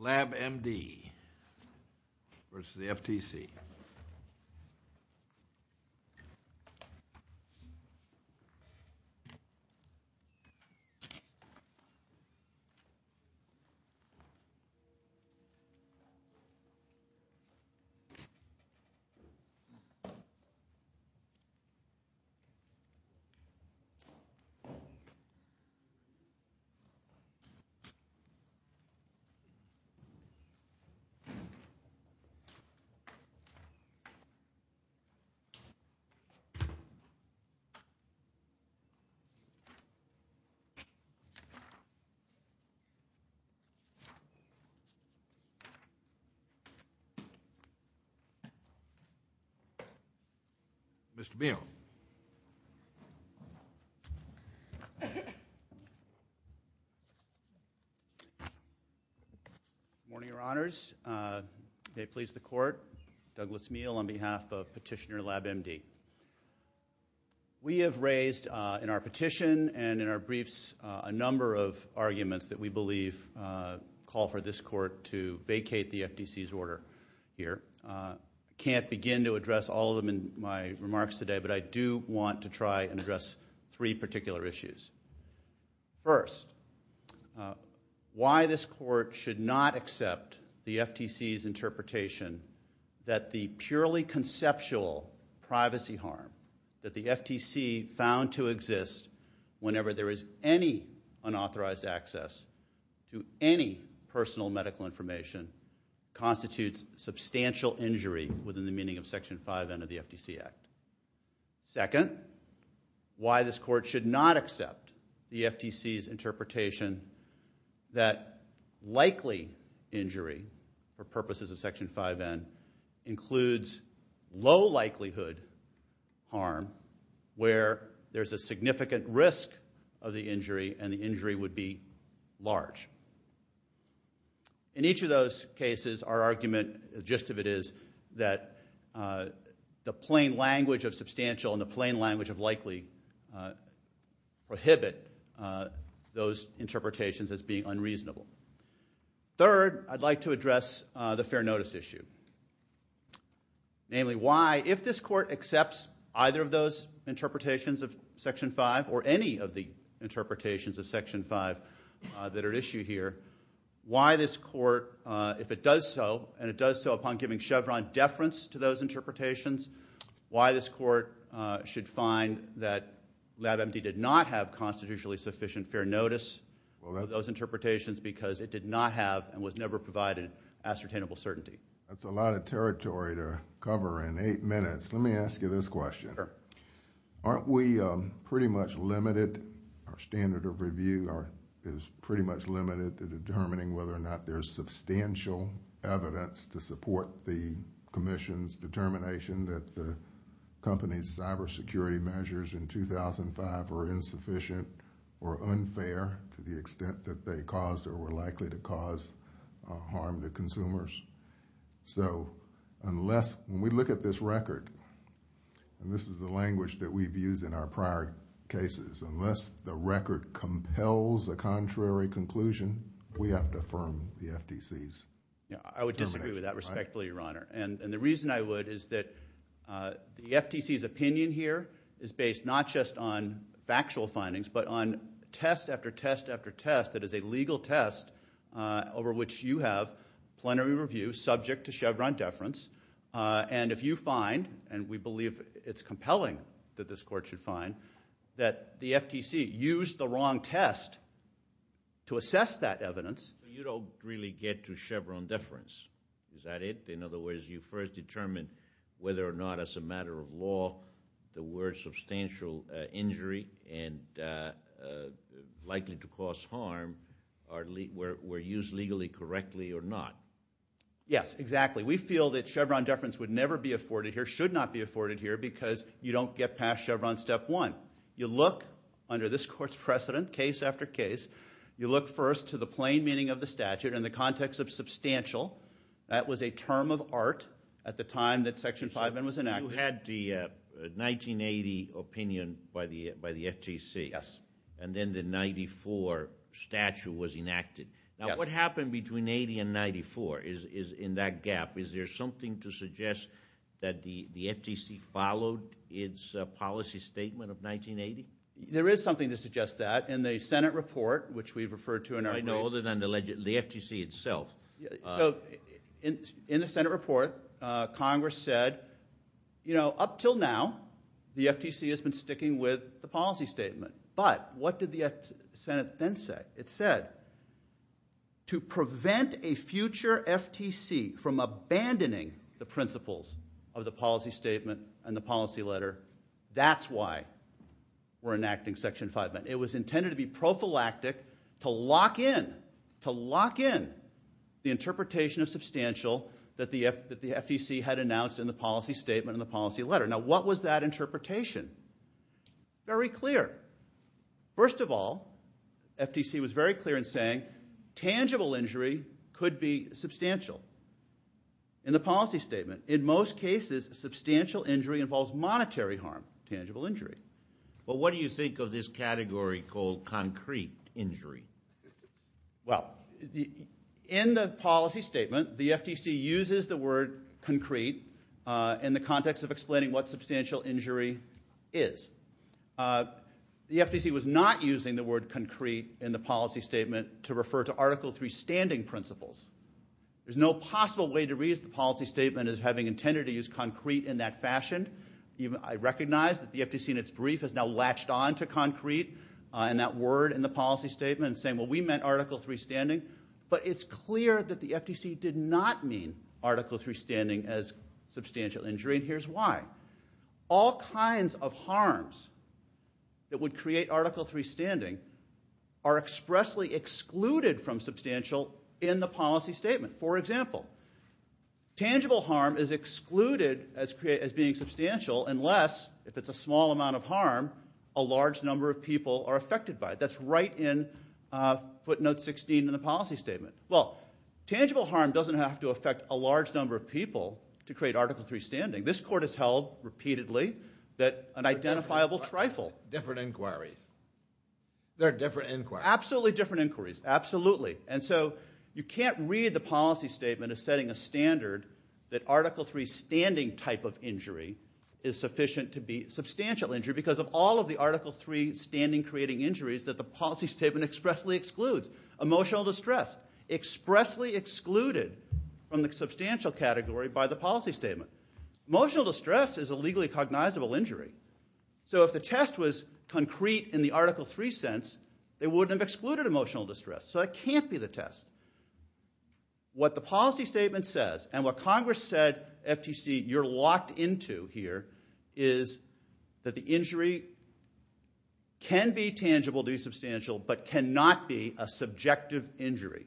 LabMD versus the FTC. LabMD versus the FTC. Mr. Beall. Good morning, Your Honors. May it please the Court, Douglas Beall on behalf of Petitioner LabMD. We have raised in our petition and in our briefs a number of arguments that we believe call for this Court to vacate the FTC's order here. Can't begin to address all of them in my remarks today, but I do want to try and address three particular issues. First, why this Court should not accept the FTC's interpretation that the purely conceptual privacy harm that the FTC found to exist whenever there is any unauthorized access to any personal medical information constitutes substantial injury within the meaning of Section 5N of the FTC Act. Second, why this Court should not accept the FTC's interpretation that likely injury for purposes of Section 5N includes low likelihood harm where there is a significant risk of the injury and the injury would be large. In each of those cases, our argument, the gist of it is, that the plain language of substantial and the plain language of likely prohibit those interpretations as being unreasonable. Third, I'd like to address the fair notice issue, namely why if this Court accepts either of those interpretations of Section 5 or any of the interpretations of Section 5 that are on the issue here, why this Court, if it does so, and it does so upon giving Chevron deference to those interpretations, why this Court should find that LabMD did not have constitutionally sufficient fair notice of those interpretations because it did not have and was never provided ascertainable certainty. That's a lot of territory to cover in eight minutes. Let me ask you this question. Aren't we pretty much limited, our standard of review is pretty much limited to determining whether or not there's substantial evidence to support the Commission's determination that the company's cybersecurity measures in 2005 were insufficient or unfair to the extent that they caused or were likely to cause harm to consumers? So unless, when we look at this record, and this is the language that we've used in our prior cases, unless the record compels a contrary conclusion, we have to affirm the FTC's determination. I would disagree with that respectfully, Your Honor. And the reason I would is that the FTC's opinion here is based not just on factual findings but on test after test after test that is a legal test over which you have plenary review subject to Chevron deference. And if you find, and we believe it's compelling that this Court should find, that the FTC used the wrong test to assess that evidence. You don't really get to Chevron deference, is that it? In other words, you first determine whether or not, as a matter of law, there were substantial injury and likely to cause harm were used legally correctly or not. Yes, exactly. We feel that Chevron deference would never be afforded here, should not be afforded here, because you don't get past Chevron step one. You look under this Court's precedent, case after case, you look first to the plain meaning of the statute in the context of substantial. That was a term of art at the time that Section 5N was enacted. You had the 1980 opinion by the FTC, and then the 94 statute was enacted. Now, what happened between 80 and 94 is in that gap. Is there something to suggest that the FTC followed its policy statement of 1980? There is something to suggest that. In the Senate report, which we've referred to in our brief. I know, other than the FTC itself. So, in the Senate report, Congress said, you know, up till now, the FTC has been sticking with the policy statement, but what did the Senate then say? It said, to prevent a future FTC from abandoning the principles of the policy statement and the policy letter, that's why we're enacting Section 5N. It was intended to be prophylactic, to lock in, to lock in the interpretation of substantial that the FTC had announced in the policy statement and the policy letter. Now, what was that interpretation? Very clear. First of all, FTC was very clear in saying, tangible injury could be substantial. In the policy statement. In most cases, substantial injury involves monetary harm. Tangible injury. Well, what do you think of this category called concrete injury? Well, in the policy statement, the FTC uses the word concrete in the context of explaining what substantial injury is. The FTC was not using the word concrete in the policy statement to refer to Article 3 standing principles. There's no possible way to read the policy statement as having intended to use concrete in that fashion. I recognize that the FTC in its brief has now latched on to concrete and that word in the policy statement and saying, well, we meant Article 3 standing. But it's clear that the FTC did not mean Article 3 standing as substantial injury. Here's why. All kinds of harms that would create Article 3 standing are expressly excluded from substantial in the policy statement. For example, tangible harm is excluded as being substantial unless, if it's a small amount of harm, a large number of people are affected by it. That's right in footnote 16 in the policy statement. Well, tangible harm doesn't have to affect a large number of people to create Article 3 standing. This court has held repeatedly that an identifiable trifle. Different inquiries. There are different inquiries. Absolutely different inquiries. Absolutely. And so you can't read the policy statement as setting a standard that Article 3 standing type of injury is sufficient to be substantial injury because of all of the Article 3 standing creating injuries that the policy statement expressly excludes. Emotional distress expressly excluded from the substantial category by the policy statement. Emotional distress is a legally cognizable injury. So if the test was concrete in the Article 3 sense, it wouldn't have excluded emotional distress. So it can't be the test. What the policy statement says, and what Congress said, FTC, you're locked into here, is that the injury can be tangible to be substantial but cannot be a subjective injury.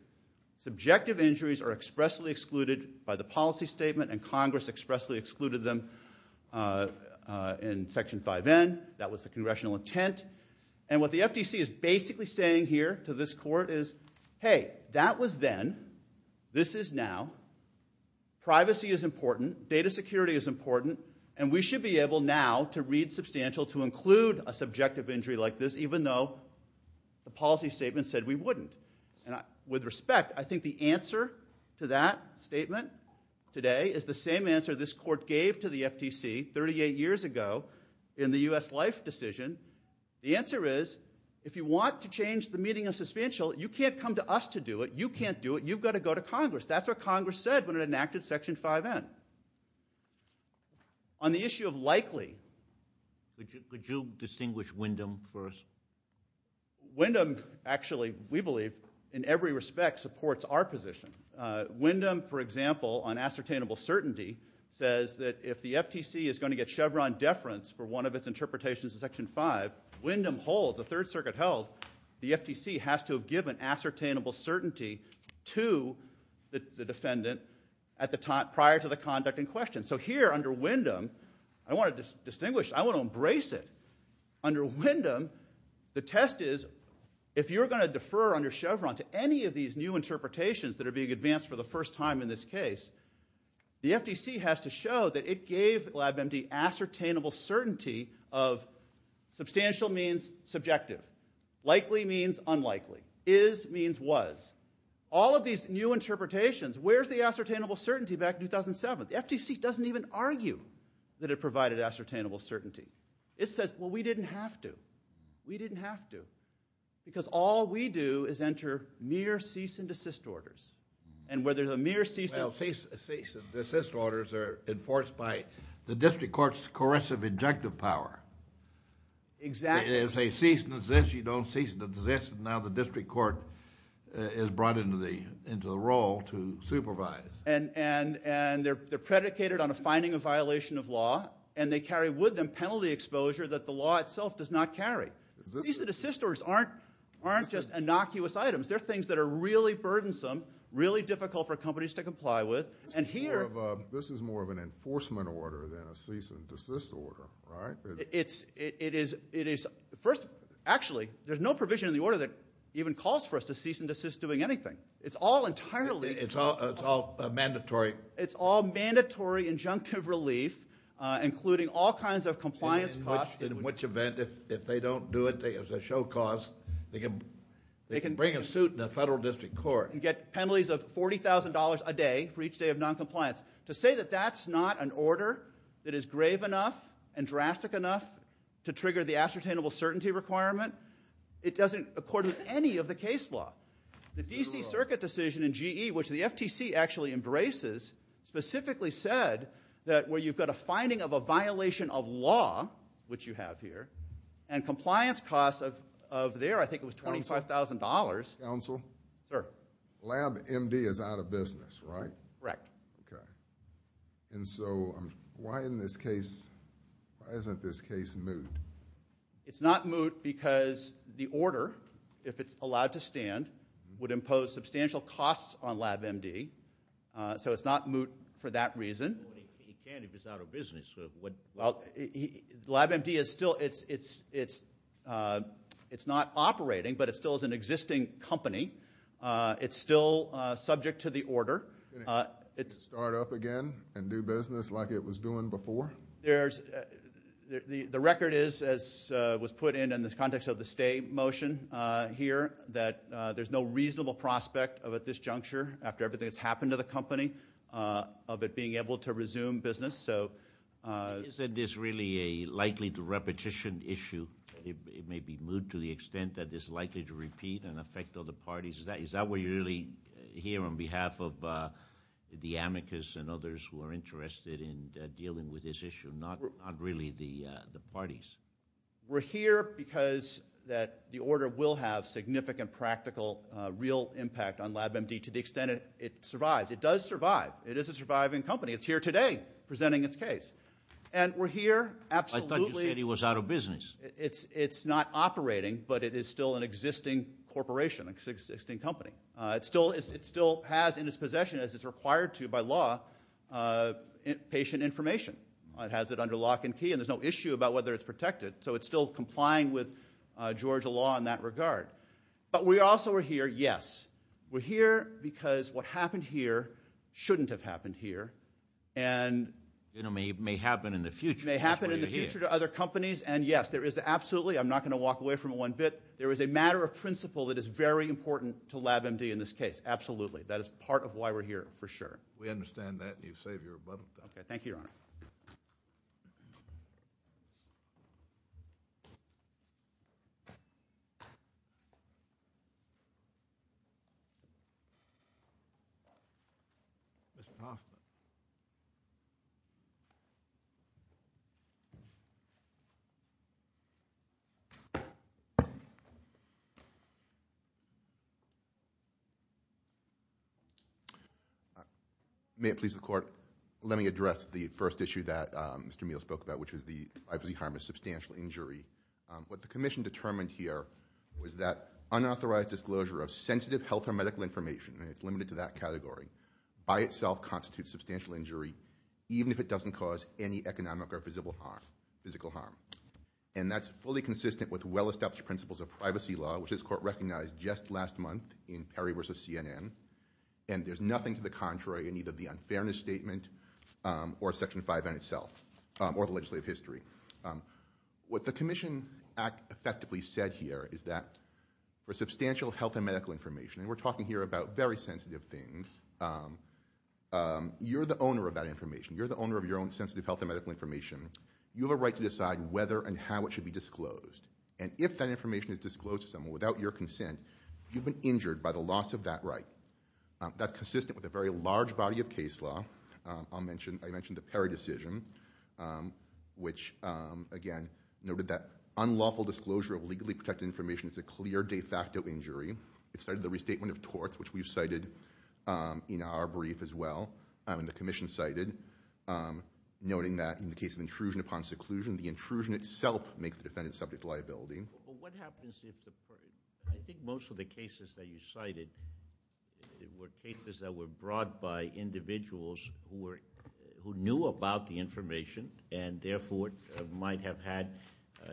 Subjective injuries are expressly excluded by the policy statement and Congress expressly excluded them in Section 5N. That was the congressional intent. And what the FTC is basically saying here to this court is, hey, that was then. This is now. Privacy is important. Data security is important. And we should be able now to read substantial to include a subjective injury like this even though the policy statement said we wouldn't. With respect, I think the answer to that statement today is the same answer this court gave to the FTC 38 years ago in the U.S. Life decision. The answer is, if you want to change the meaning of substantial, you can't come to us to do it. You can't do it. You've got to go to Congress. That's what Congress said when it enacted Section 5N. On the issue of likely, could you distinguish Wyndham for us? Wyndham, actually, we believe, in every respect, supports our position. Wyndham, for example, on ascertainable certainty, says that if the FTC is going to get Chevron deference for one of its interpretations of Section 5, Wyndham holds, the Third Circuit held, the FTC has to have given ascertainable certainty to the defendant prior to the conduct in question. So here, under Wyndham, I want to embrace it. Under Wyndham, the test is, if you're going to defer under Chevron to any of these new interpretations that are being advanced for the first time in this case, the FTC has to show that it gave LabMD ascertainable certainty of substantial means subjective, likely means unlikely, is means was. All of these new interpretations, where's the ascertainable certainty back in 2007? The FTC doesn't even argue that it provided ascertainable certainty. It says, well, we didn't have to. We didn't have to. Because all we do is enter mere cease and desist orders. And where there's a mere cease and desist orders are enforced by the district court's coercive injunctive power. Exactly. If they cease and desist, you don't cease and desist, and now the district court is brought into the role to supervise. And they're predicated on a finding of violation of law, and they carry with them penalty exposure that the law itself does not carry. Cease and desist orders aren't just innocuous items. They're things that are really burdensome, really difficult for companies to comply with. And here... This is more of an enforcement order than a cease and desist order, right? It is... First, actually, there's no provision in the order that even calls for us to cease and desist doing anything. It's all entirely... It's all mandatory. It's all mandatory injunctive relief, including all kinds of compliance costs. In which event, if they don't do it as a show cause, they can bring a suit in the federal district court. And get penalties of $40,000 a day for each day of noncompliance. To say that that's not an order that is grave enough and drastic enough to trigger the ascertainable certainty requirement, it doesn't accord with any of the case law. The D.C. Circuit decision in GE, which the FTC actually embraces, specifically said that where you've got a finding of a violation of law, which you have here, and compliance costs of there, I think it was $25,000... Counsel? Sir? Lab MD is out of business, right? Correct. Okay. And so, why isn't this case moot? It's not moot because the order, if it's allowed to stand, would impose substantial costs on Lab MD. So it's not moot for that reason. Well, he can if he's out of business. Well, Lab MD is still... It's not operating, but it still is an existing company. It's still subject to the order. Can it start up again and do business like it was doing before? The record is, as was put in in the context of the stay motion here, that there's no reasonable prospect of at this juncture, after everything that's happened to the company, of it being able to resume business. So... Isn't this really a likely-to-repetition issue? It may be moot to the extent that it's likely to repeat and affect other parties. Is that what you really hear on behalf of the amicus and others who are interested in dealing with this issue, not really the parties? We're here because the order will have significant practical, real impact on Lab MD to the extent it survives. It does survive. It is a surviving company. It's here today presenting its case. And we're here absolutely... I thought you said he was out of business. It's not operating, but it is still an existing corporation, an existing company. It still has in its possession, as it's required to by law, patient information. It has it under lock and key, and there's no issue about whether it's protected. So it's still complying with Georgia law in that regard. But we also are here, yes. We're here because what happened here shouldn't have happened here. And... It may happen in the future. It may happen in the future to other companies. And yes, there is absolutely... I'm not going to walk away from it one bit. There is a matter of principle that is very important to Lab MD in this case. Absolutely. That is part of why we're here, for sure. We understand that. You've saved your butt. Okay. Mr. Hoffman. May it please the court. Let me address the first issue that Mr. Meehl spoke about, which is the... I believe he harmed a substantial injury. What the commission determined here was that unauthorized disclosure of sensitive health or medical information, and it's limited to that category, by itself constitutes substantial injury, even if it doesn't cause any economic or physical harm. And that's fully consistent with well-established principles of privacy law, which this court recognized just last month in Perry versus CNN. And there's nothing to the contrary in either the unfairness statement or Section 5N itself, or the legislative history. What the commission effectively said here is that for substantial health and medical information, and we're talking here about very sensitive things, you're the owner of that information. You're the owner of your own sensitive health and medical information. You have a right to decide whether and how it should be disclosed. And if that information is disclosed to someone without your consent, you've been injured by the loss of that right. That's consistent with a very large body of case law. I mentioned the Perry decision, which, again, noted that unlawful disclosure of legally protected information is a clear de facto injury. It cited the restatement of torts, which we've cited in our brief as well, and the commission cited, noting that in the case of intrusion upon seclusion, the intrusion itself makes the defendant subject to liability. But what happens if the – I think most of the cases that you cited were cases that were brought by individuals who knew about the information and, therefore, might have had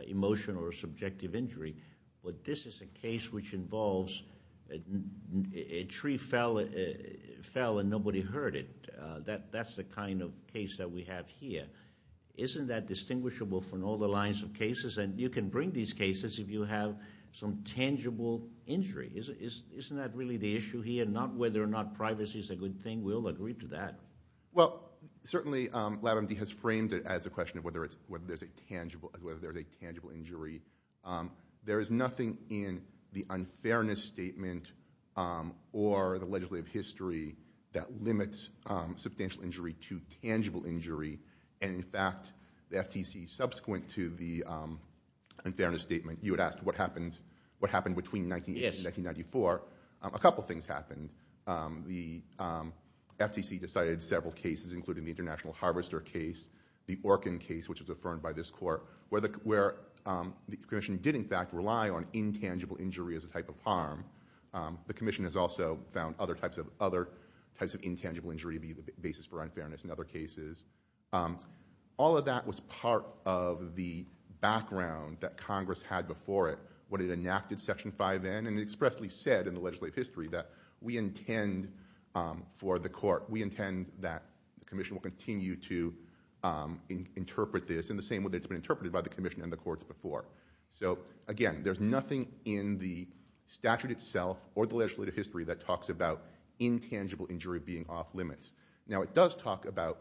emotional or subjective injury. But this is a case which involves a tree fell and nobody heard it. That's the kind of case that we have here. Isn't that distinguishable from all the lines of cases? And you can bring these cases if you have some tangible injury. Isn't that really the issue here, not whether or not privacy is a good thing? We all agree to that. Well, certainly LabMD has framed it as a question of whether there's a tangible injury. There is nothing in the unfairness statement or the legislative history that limits substantial injury to tangible injury. And, in fact, the FTC, subsequent to the unfairness statement, you had asked what happened between 1980 and 1994. A couple things happened. The FTC decided several cases, including the International Harvester case, the Orkin case, which was affirmed by this court, where the commission did, in fact, rely on intangible injury as a type of harm. The commission has also found other types of intangible injury to be the basis for unfairness in other cases. All of that was part of the background that Congress had before it when it enacted Section 5N, and it expressly said in the legislative history that we intend for the court, we intend that the commission will continue to interpret this in the same way that it's been interpreted by the commission and the courts before. So, again, there's nothing in the statute itself or the legislative history that talks about intangible injury being off limits. Now, it does talk about,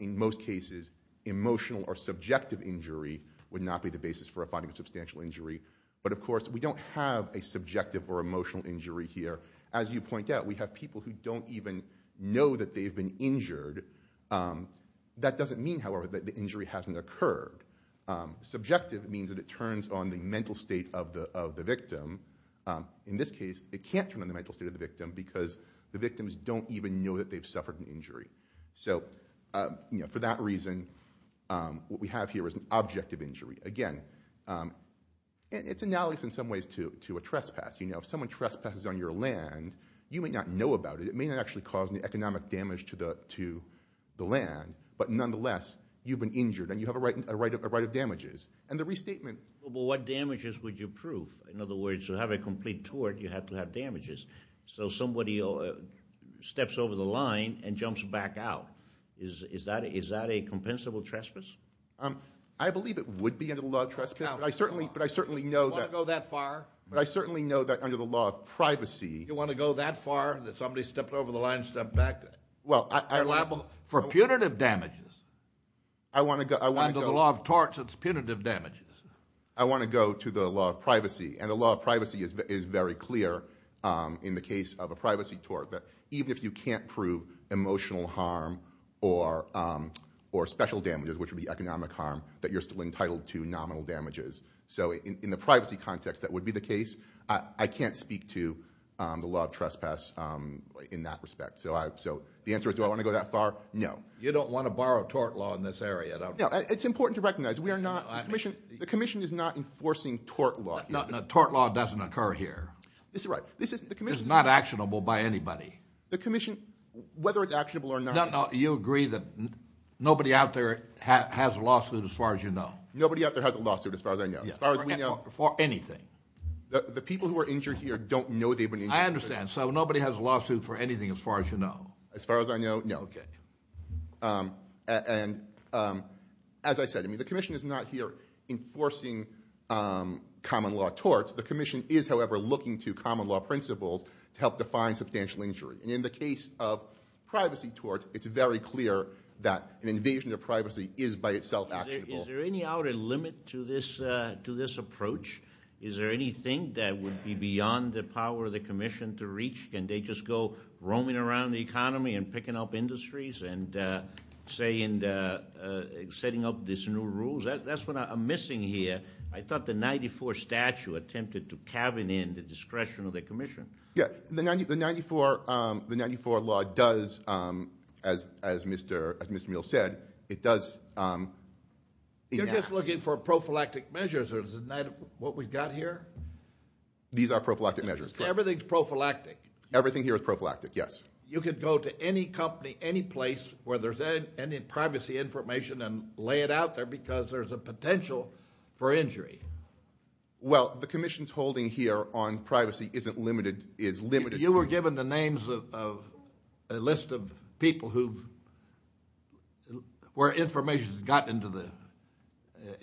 in most cases, emotional or subjective injury would not be the basis for a finding of substantial injury. But, of course, we don't have a subjective or emotional injury here. As you point out, we have people who don't even know that they've been injured. That doesn't mean, however, that the injury hasn't occurred. Subjective means that it turns on the mental state of the victim. In this case, it can't turn on the mental state of the victim because the victims don't even know that they've suffered an injury. So, for that reason, what we have here is an objective injury. Again, it's analogous in some ways to a trespass. You know, if someone trespasses on your land, you may not know about it. It may not actually cause any economic damage to the land. But, nonetheless, you've been injured and you have a right of damages. And the restatement… But what damages would you prove? In other words, to have a complete tort, you have to have damages. So somebody steps over the line and jumps back out. Is that a compensable trespass? I believe it would be under the law of trespass. But I certainly know that… You want to go that far? But I certainly know that under the law of privacy… You want to go that far that somebody stepped over the line and stepped back? Well, I… For punitive damages. I want to go… Under the law of torts, it's punitive damages. I want to go to the law of privacy. And the law of privacy is very clear in the case of a privacy tort. Even if you can't prove emotional harm or special damages, which would be economic harm, that you're still entitled to nominal damages. So in the privacy context, that would be the case. I can't speak to the law of trespass in that respect. So the answer is do I want to go that far? No. You don't want to borrow tort law in this area, don't you? It's important to recognize we are not… The commission is not enforcing tort law. Tort law doesn't occur here. This is right. The commission, whether it's actionable or not… No, no. You agree that nobody out there has a lawsuit as far as you know. Nobody out there has a lawsuit as far as I know. As far as we know. For anything. The people who are injured here don't know they've been injured. I understand. So nobody has a lawsuit for anything as far as you know. As far as I know, no. Okay. And as I said, the commission is not here enforcing common law torts. The commission is, however, looking to common law principles to help define substantial injury. And in the case of privacy torts, it's very clear that an invasion of privacy is by itself actionable. Is there any outer limit to this approach? Is there anything that would be beyond the power of the commission to reach? Can they just go roaming around the economy and picking up industries and setting up these new rules? That's what I'm missing here. I thought the 94 statute attempted to cabin in the discretion of the commission. The 94 law does, as Mr. Meehl said, it does. You're just looking for prophylactic measures. Isn't that what we've got here? These are prophylactic measures. Everything's prophylactic. Everything here is prophylactic, yes. You could go to any company, any place where there's any privacy information and lay it out there because there's a potential for injury. Well, the commission's holding here on privacy isn't limited, is limited. You were given the names of a list of people who've, where information has gotten into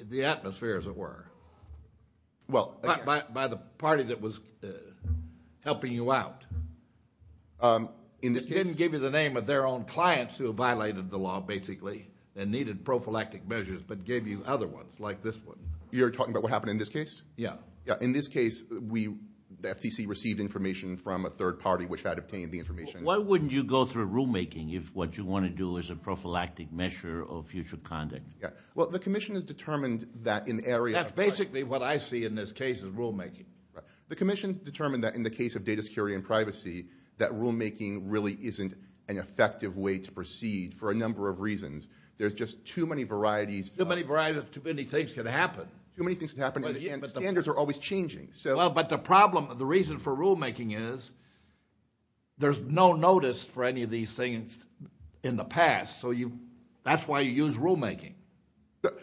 the atmosphere, as it were, by the party that was helping you out. It didn't give you the name of their own clients who have violated the law, basically, and needed prophylactic measures but gave you other ones like this one. You're talking about what happened in this case? Yeah. In this case, the FTC received information from a third party which had obtained the information. Why wouldn't you go through rulemaking if what you want to do is a prophylactic measure of future conduct? Well, the commission has determined that in areas of privacy. That's basically what I see in this case is rulemaking. The commission's determined that in the case of data security and privacy, that rulemaking really isn't an effective way to proceed for a number of reasons. There's just too many varieties. Too many varieties, too many things can happen. Too many things can happen, and standards are always changing. Well, but the problem, the reason for rulemaking is there's no notice for any of these things in the past, so that's why you use rulemaking. You're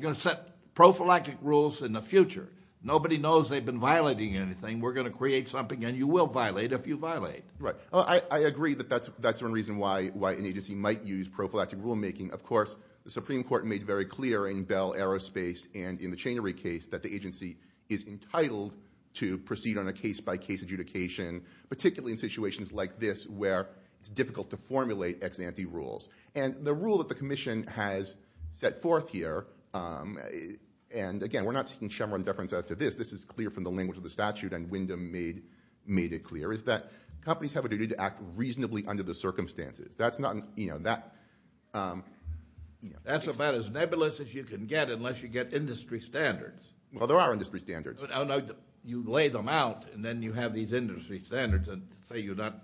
going to set prophylactic rules in the future. Nobody knows they've been violating anything. We're going to create something, and you will violate if you violate. Right. I agree that that's one reason why an agency might use prophylactic rulemaking. Of course, the Supreme Court made very clear in Bell Aerospace and in the Chainery case that the agency is entitled to proceed on a case-by-case adjudication, particularly in situations like this where it's difficult to formulate ex-ante rules. And the rule that the commission has set forth here, and, again, we're not seeking shemmer and deference after this. This is clear from the language of the statute, and Wyndham made it clear, is that companies have a duty to act reasonably under the circumstances. That's not, you know, that. That's about as nebulous as you can get unless you get industry standards. Well, there are industry standards. You lay them out, and then you have these industry standards, and say you're not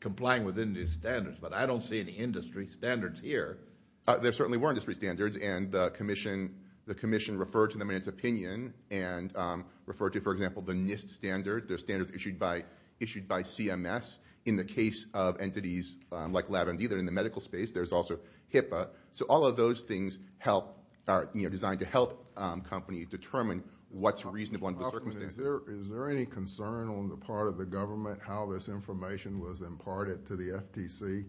complying with any of these standards, but I don't see any industry standards here. There certainly were industry standards, and the commission referred to them in its opinion, and referred to, for example, the NIST standards. They're standards issued by CMS. In the case of entities like LabMD, they're in the medical space. There's also HIPAA. So all of those things are designed to help companies determine what's reasonable under the circumstances. Is there any concern on the part of the government how this information was imparted to the FTC?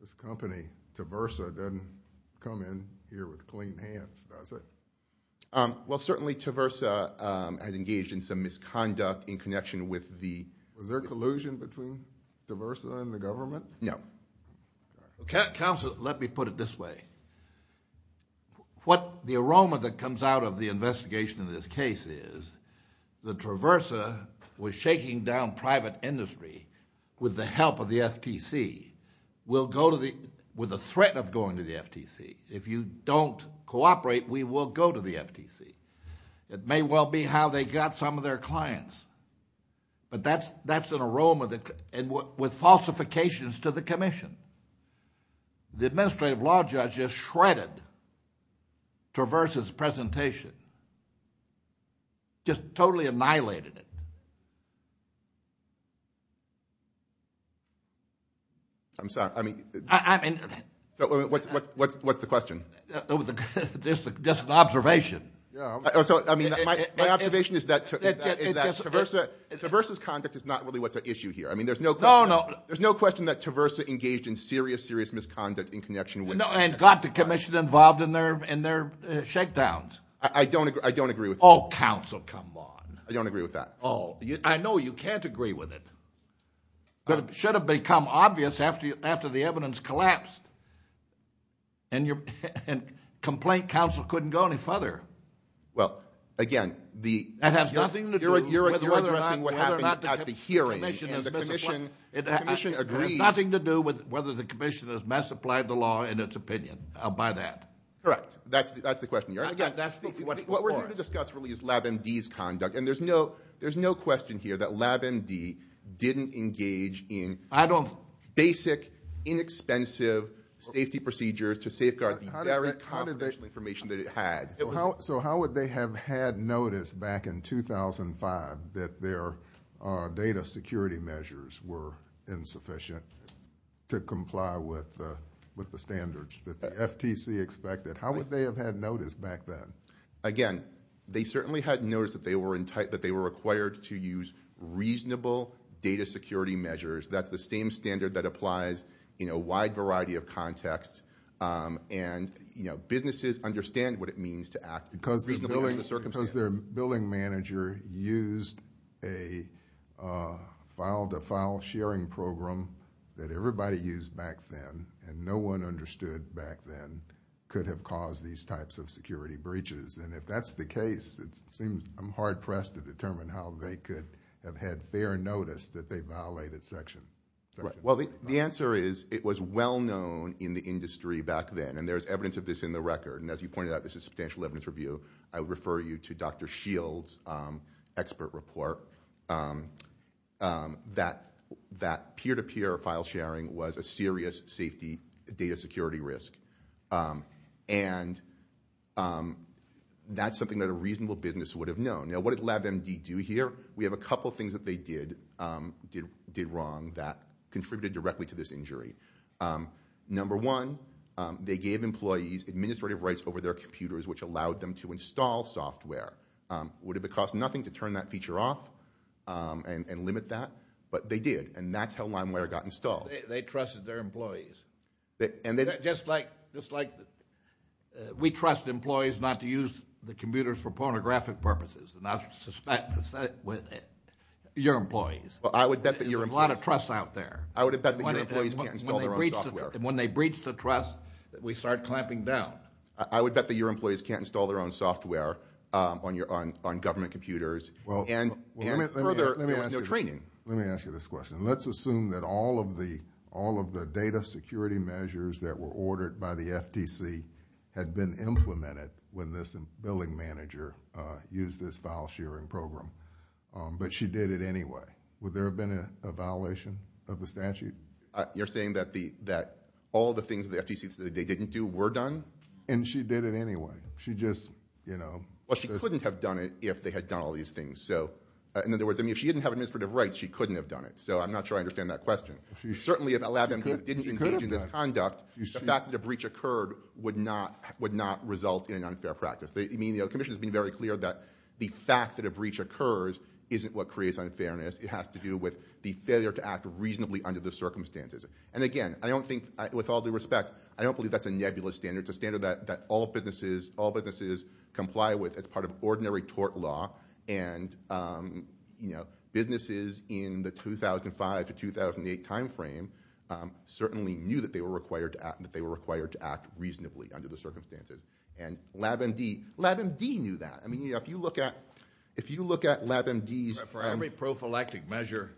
This company, Traversa, doesn't come in here with clean hands, does it? Well, certainly Traversa has engaged in some misconduct in connection with the ---- Was there collusion between Traversa and the government? No. Counsel, let me put it this way. What the aroma that comes out of the investigation in this case is that Traversa was shaking down private industry with the help of the FTC, with the threat of going to the FTC. If you don't cooperate, we will go to the FTC. It may well be how they got some of their clients, but that's an aroma with falsifications to the commission. Just totally annihilated it. I'm sorry. I mean, what's the question? Just an observation. So, I mean, my observation is that Traversa's conduct is not really what's at issue here. I mean, there's no question that Traversa engaged in serious, serious misconduct in connection with ---- And got the commission involved in their shakedowns. I don't agree with that. Oh, counsel, come on. I don't agree with that. Oh, I know you can't agree with it. But it should have become obvious after the evidence collapsed. And complaint counsel couldn't go any further. Well, again, the ---- It has nothing to do with whether or not the commission has ---- You're addressing what happened at the hearing, and the commission agrees ---- It has nothing to do with whether the commission has mass supplied the law in its opinion by that. Correct. That's the question. Again, what we're here to discuss really is LabMD's conduct. And there's no question here that LabMD didn't engage in basic, inexpensive safety procedures to safeguard the very confidential information that it had. So how would they have had noticed back in 2005 that their data security measures were insufficient to comply with the standards that the FTC expected? How would they have had noticed back then? Again, they certainly had noticed that they were required to use reasonable data security measures. That's the same standard that applies in a wide variety of contexts. And businesses understand what it means to act reasonably under the circumstances. Because their billing manager used a file-to-file sharing program that everybody used back then, and no one understood back then could have caused these types of security breaches. And if that's the case, it seems I'm hard-pressed to determine how they could have had fair notice that they violated section ---- Well, the answer is it was well known in the industry back then, and there's evidence of this in the record. And as you pointed out, this is substantial evidence review. I would refer you to Dr. Shield's expert report that peer-to-peer file sharing was a serious safety data security risk. And that's something that a reasonable business would have known. Now, what did LabMD do here? We have a couple things that they did wrong that contributed directly to this injury. Number one, they gave employees administrative rights over their computers, which allowed them to install software. Would it have cost nothing to turn that feature off and limit that? But they did, and that's how LimeWare got installed. They trusted their employees. And they ---- Just like we trust employees not to use the computers for pornographic purposes, and I suspect the same with your employees. Well, I would bet that your employees ---- There's a lot of trust out there. I would bet that your employees can't install their own software. When they breach the trust, we start clamping down. I would bet that your employees can't install their own software on government computers, and further, there was no training. Let me ask you this question. Let's assume that all of the data security measures that were ordered by the FTC had been implemented when this billing manager used this file sharing program. But she did it anyway. Would there have been a violation of the statute? You're saying that all the things that the FTC said they didn't do were done? And she did it anyway. She just, you know ---- Well, she couldn't have done it if they had done all these things. So, in other words, I mean, if she didn't have administrative rights, she couldn't have done it. So I'm not sure I understand that question. Certainly, if it allowed them to engage in this conduct, the fact that a breach occurred would not result in an unfair practice. I mean, the commission has been very clear that the fact that a breach occurs isn't what creates unfairness. It has to do with the failure to act reasonably under the circumstances. And, again, I don't think, with all due respect, I don't believe that's a nebulous standard. It's a standard that all businesses comply with as part of ordinary tort law. And, you know, businesses in the 2005 to 2008 timeframe certainly knew that they were required to act reasonably under the circumstances. And LabMD, LabMD knew that. I mean, if you look at LabMD's ---- For every prophylactic measure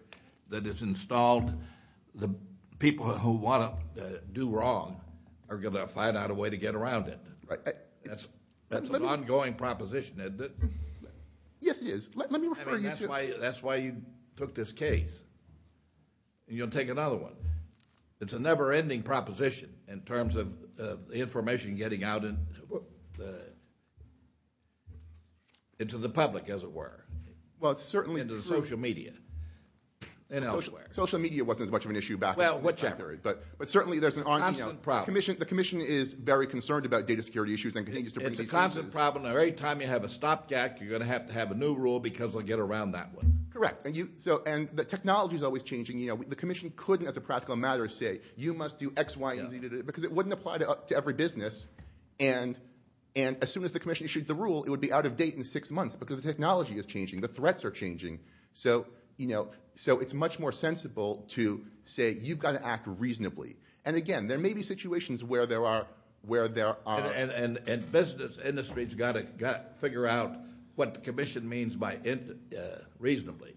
that is installed, the people who want to do wrong are going to find out a way to get around it. That's an ongoing proposition. Yes, it is. Let me refer you to ---- I mean, that's why you took this case. And you'll take another one. It's a never-ending proposition in terms of information getting out into the public, as it were. Well, it's certainly true. Into the social media and elsewhere. Social media wasn't as much of an issue back then. Well, whichever. But certainly there's an ongoing ---- Constant problem. The commission is very concerned about data security issues and continues to bring these cases. It's a constant problem. Every time you have a stopgap, you're going to have to have a new rule because they'll get around that one. Correct. And the technology is always changing. The commission couldn't, as a practical matter, say you must do X, Y, and Z because it wouldn't apply to every business. And as soon as the commission issued the rule, it would be out of date in six months because the technology is changing. The threats are changing. So it's much more sensible to say you've got to act reasonably. And, again, there may be situations where there are ---- And business industry has got to figure out what the commission means by reasonably.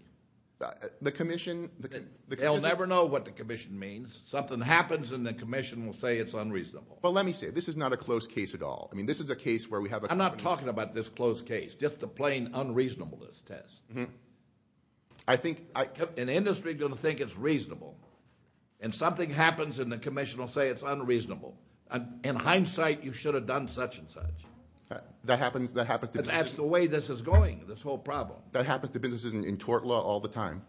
The commission ---- They'll never know what the commission means. Something happens and the commission will say it's unreasonable. Well, let me say, this is not a closed case at all. I mean, this is a case where we have a ---- I'm not talking about this closed case, just the plain unreasonableness test. I think ---- An industry is going to think it's reasonable, and something happens and the commission will say it's unreasonable. In hindsight, you should have done such and such. That happens to business ---- That's the way this is going, this whole problem. That happens to businesses in tort law all the time.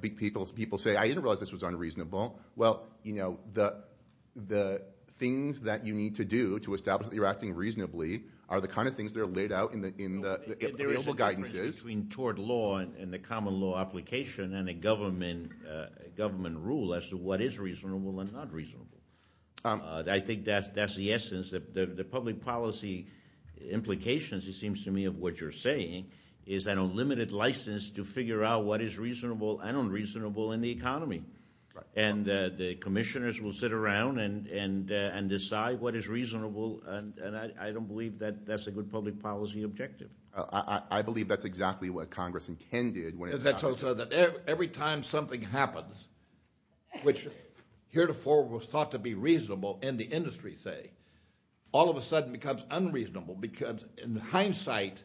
People say, I didn't realize this was unreasonable. Well, the things that you need to do to establish that you're acting reasonably are the kind of things that are laid out in the available guidances. There is a difference between tort law and the common law application and a government rule as to what is reasonable and not reasonable. I think that's the essence. The public policy implications, it seems to me, of what you're saying is that a limited license to figure out what is reasonable and unreasonable in the economy. And the commissioners will sit around and decide what is reasonable, and I don't believe that that's a good public policy objective. I believe that's exactly what Congress intended. Every time something happens, which heretofore was thought to be reasonable in the industry, say, all of a sudden becomes unreasonable because in hindsight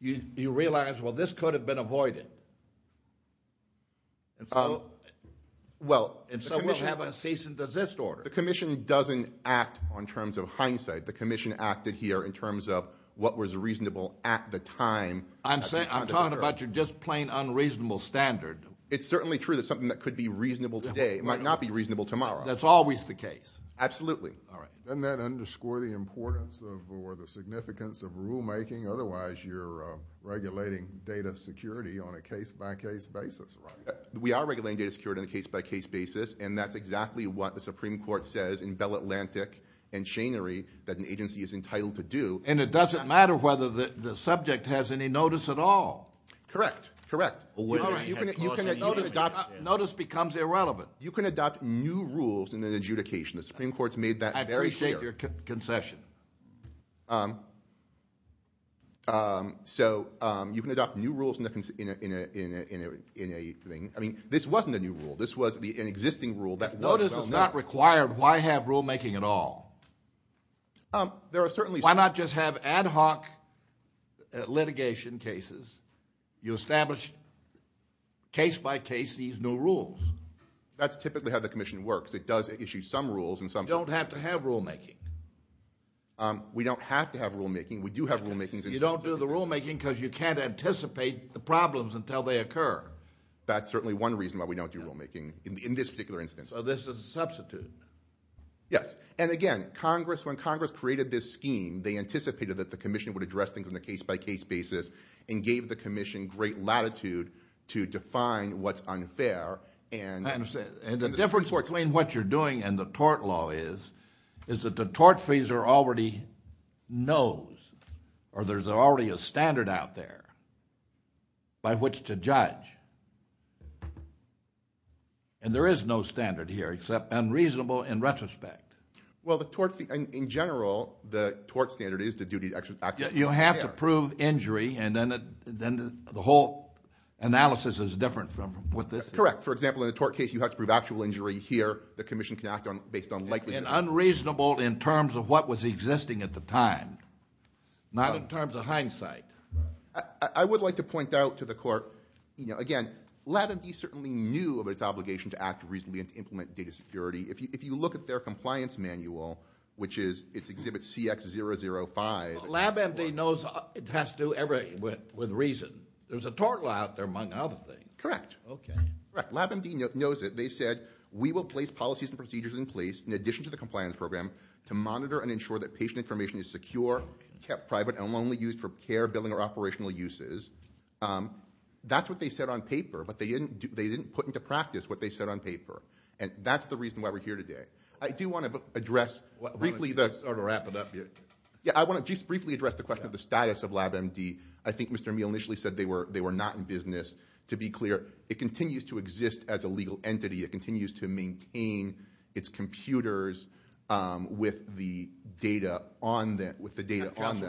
you realize, well, this could have been avoided. And so we'll have a cease and desist order. The commission doesn't act on terms of hindsight. The commission acted here in terms of what was reasonable at the time. I'm talking about your just plain unreasonable standard. It's certainly true that something that could be reasonable today might not be reasonable tomorrow. That's always the case. Absolutely. All right. Doesn't that underscore the importance or the significance of rulemaking? Otherwise, you're regulating data security on a case-by-case basis, right? We are regulating data security on a case-by-case basis, and that's exactly what the Supreme Court says in Bell Atlantic and Schenery that an agency is entitled to do. And it doesn't matter whether the subject has any notice at all. Correct. Correct. Notice becomes irrelevant. You can adopt new rules in an adjudication. The Supreme Court's made that very clear. I appreciate your concession. So you can adopt new rules in a thing. I mean, this wasn't a new rule. This was an existing rule that was. Notice is not required. Why have rulemaking at all? There are certainly. Why not just have ad hoc litigation cases? You establish case-by-case these new rules. That's typically how the commission works. It does issue some rules and some. You don't have to have rulemaking. We don't have to have rulemaking. We do have rulemakings. You don't do the rulemaking because you can't anticipate the problems until they occur. That's certainly one reason why we don't do rulemaking in this particular instance. So this is a substitute. Yes. And, again, Congress, when Congress created this scheme, they anticipated that the commission would address things on a case-by-case basis and gave the commission great latitude to define what's unfair. And the difference between what you're doing and the tort law is is that the tort freezer already knows, or there's already a standard out there by which to judge. And there is no standard here except unreasonable in retrospect. Well, in general, the tort standard is the duty to act. You have to prove injury, and then the whole analysis is different from what this is. Correct. For example, in a tort case, you have to prove actual injury here. The commission can act based on likelihood. And unreasonable in terms of what was existing at the time, not in terms of hindsight. I would like to point out to the court, again, LabMD certainly knew of its obligation to act reasonably and to implement data security. If you look at their compliance manual, which is Exhibit CX005. LabMD knows it has to do with reason. There's a tort law out there, among other things. Correct. LabMD knows it. They said, We will place policies and procedures in place, in addition to the compliance program, to monitor and ensure that patient information is secure, kept private, and only used for care, billing, or operational uses. That's what they said on paper, but they didn't put into practice what they said on paper. And that's the reason why we're here today. I do want to address briefly the question of the status of LabMD. I think Mr. Meehl initially said they were not in business. To be clear, it continues to exist as a legal entity. It continues to maintain its computers with the data on them.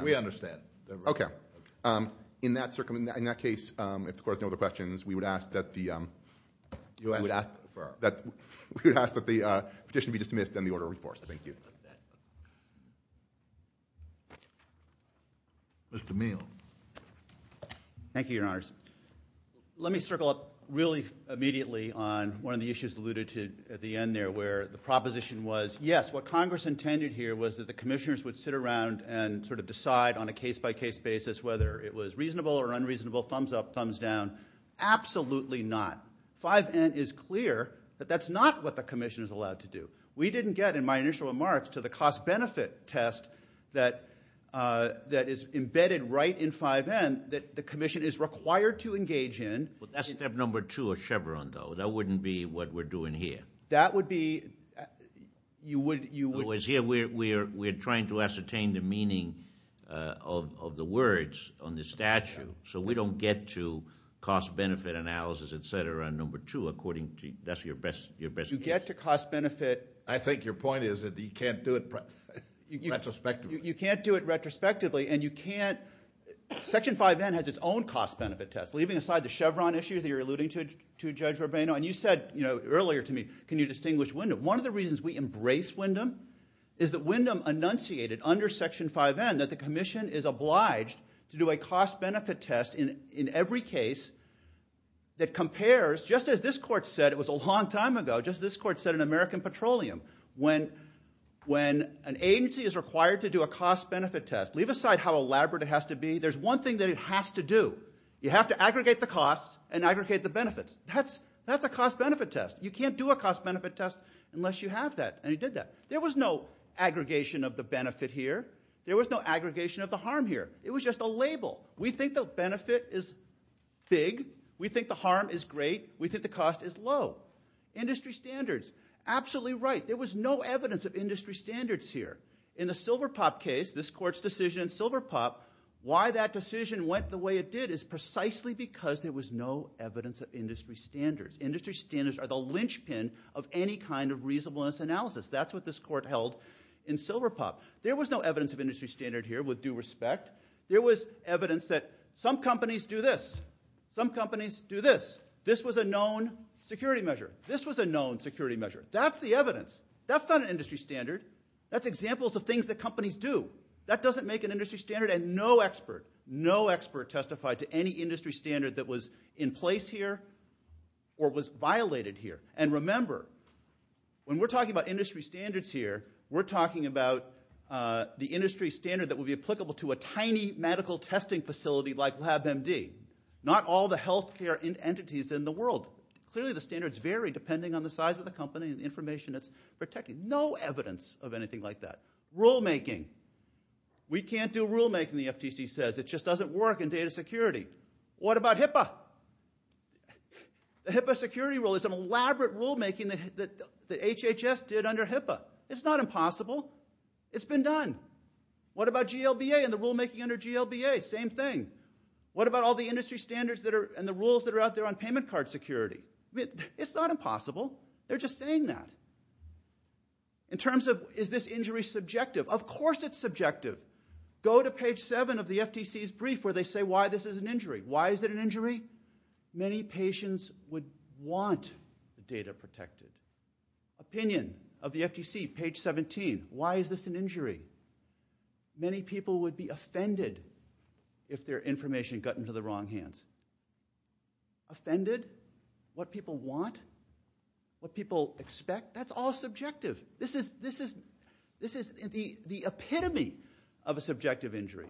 We understand. Okay. In that case, if the Court has no other questions, we would ask that the petition be dismissed and the order reforced. Thank you. Mr. Meehl. Thank you, Your Honors. Let me circle up really immediately on one of the issues alluded to at the end there, where the proposition was, yes, what Congress intended here was that the commissioners would sit around and sort of decide on a case-by-case basis whether it was reasonable or unreasonable, thumbs up, thumbs down. Absolutely not. 5N is clear that that's not what the commission is allowed to do. We didn't get, in my initial remarks, to the cost-benefit test that is embedded right in 5N, that the commission is required to engage in. That's step number two of Chevron, though. That wouldn't be what we're doing here. That would be you wouldn't. We're trying to ascertain the meaning of the words on the statute, so we don't get to cost-benefit analysis, et cetera, on number two. That's your best guess. You get to cost-benefit. I think your point is that you can't do it retrospectively. You can't do it retrospectively, and you can't. Section 5N has its own cost-benefit test, leaving aside the Chevron issue that you're alluding to, Judge Rubino. And you said earlier to me, can you distinguish Wyndham? One of the reasons we embrace Wyndham is that Wyndham enunciated under Section 5N that the commission is obliged to do a cost-benefit test in every case that compares, just as this court said it was a long time ago, just as this court said in American Petroleum, when an agency is required to do a cost-benefit test, leave aside how elaborate it has to be. There's one thing that it has to do. You have to aggregate the costs and aggregate the benefits. That's a cost-benefit test. You can't do a cost-benefit test unless you have that, and you did that. There was no aggregation of the benefit here. There was no aggregation of the harm here. It was just a label. We think the benefit is big. We think the harm is great. We think the cost is low. Industry standards, absolutely right. There was no evidence of industry standards here. In the Silverpop case, this court's decision in Silverpop, why that decision went the way it did is precisely because there was no evidence of industry standards. Industry standards are the linchpin of any kind of reasonableness analysis. That's what this court held in Silverpop. There was no evidence of industry standard here with due respect. There was evidence that some companies do this. Some companies do this. This was a known security measure. This was a known security measure. That's the evidence. That's not an industry standard. That's examples of things that companies do. That doesn't make an industry standard. And no expert, no expert testified to any industry standard that was in place here or was violated here. And remember, when we're talking about industry standards here, we're talking about the industry standard that would be applicable to a tiny medical testing facility like LabMD. Not all the health care entities in the world. Clearly the standards vary depending on the size of the company and the information it's protecting. No evidence of anything like that. Rulemaking. We can't do rulemaking, the FTC says. It just doesn't work in data security. What about HIPAA? The HIPAA security rule is an elaborate rulemaking that HHS did under HIPAA. It's not impossible. It's been done. What about GLBA and the rulemaking under GLBA? Same thing. What about all the industry standards and the rules that are out there on payment card security? It's not impossible. They're just saying that. In terms of is this injury subjective? Of course it's subjective. Go to page 7 of the FTC's brief where they say why this is an injury. Why is it an injury? Many patients would want the data protected. Opinion of the FTC, page 17. Why is this an injury? Many people would be offended if their information got into the wrong hands. Offended? What people want? What people expect? That's all subjective. This is the epitome of a subjective injury.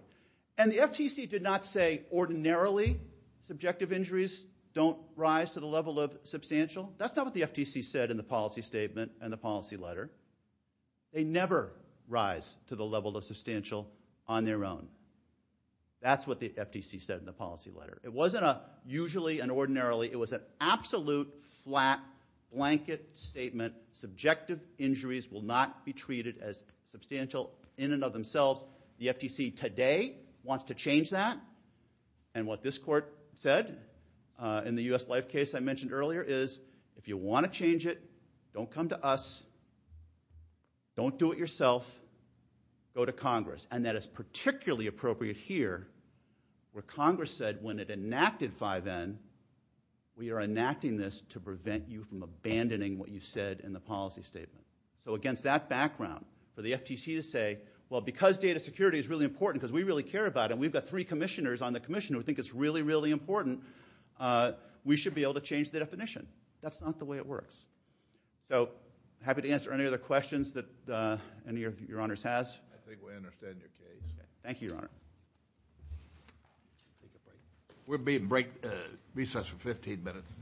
And the FTC did not say ordinarily subjective injuries don't rise to the level of substantial. That's not what the FTC said in the policy statement and the policy letter. They never rise to the level of substantial on their own. That's what the FTC said in the policy letter. It wasn't a usually and ordinarily. It was an absolute flat blanket statement. Subjective injuries will not be treated as substantial in and of themselves. The FTC today wants to change that. And what this court said in the U.S. Life case I mentioned earlier is if you want to change it, don't come to us. Don't do it yourself. Go to Congress. And that is particularly appropriate here where Congress said when it enacted 5N, we are enacting this to prevent you from abandoning what you said in the policy statement. So against that background, for the FTC to say, well, because data security is really important because we really care about it and we've got three commissioners on the commission who think it's really, really important, we should be able to change the definition. That's not the way it works. So happy to answer any other questions that any of your honors has. I think we understand your case. Thank you, Your Honor. We'll be in recess for 15 minutes.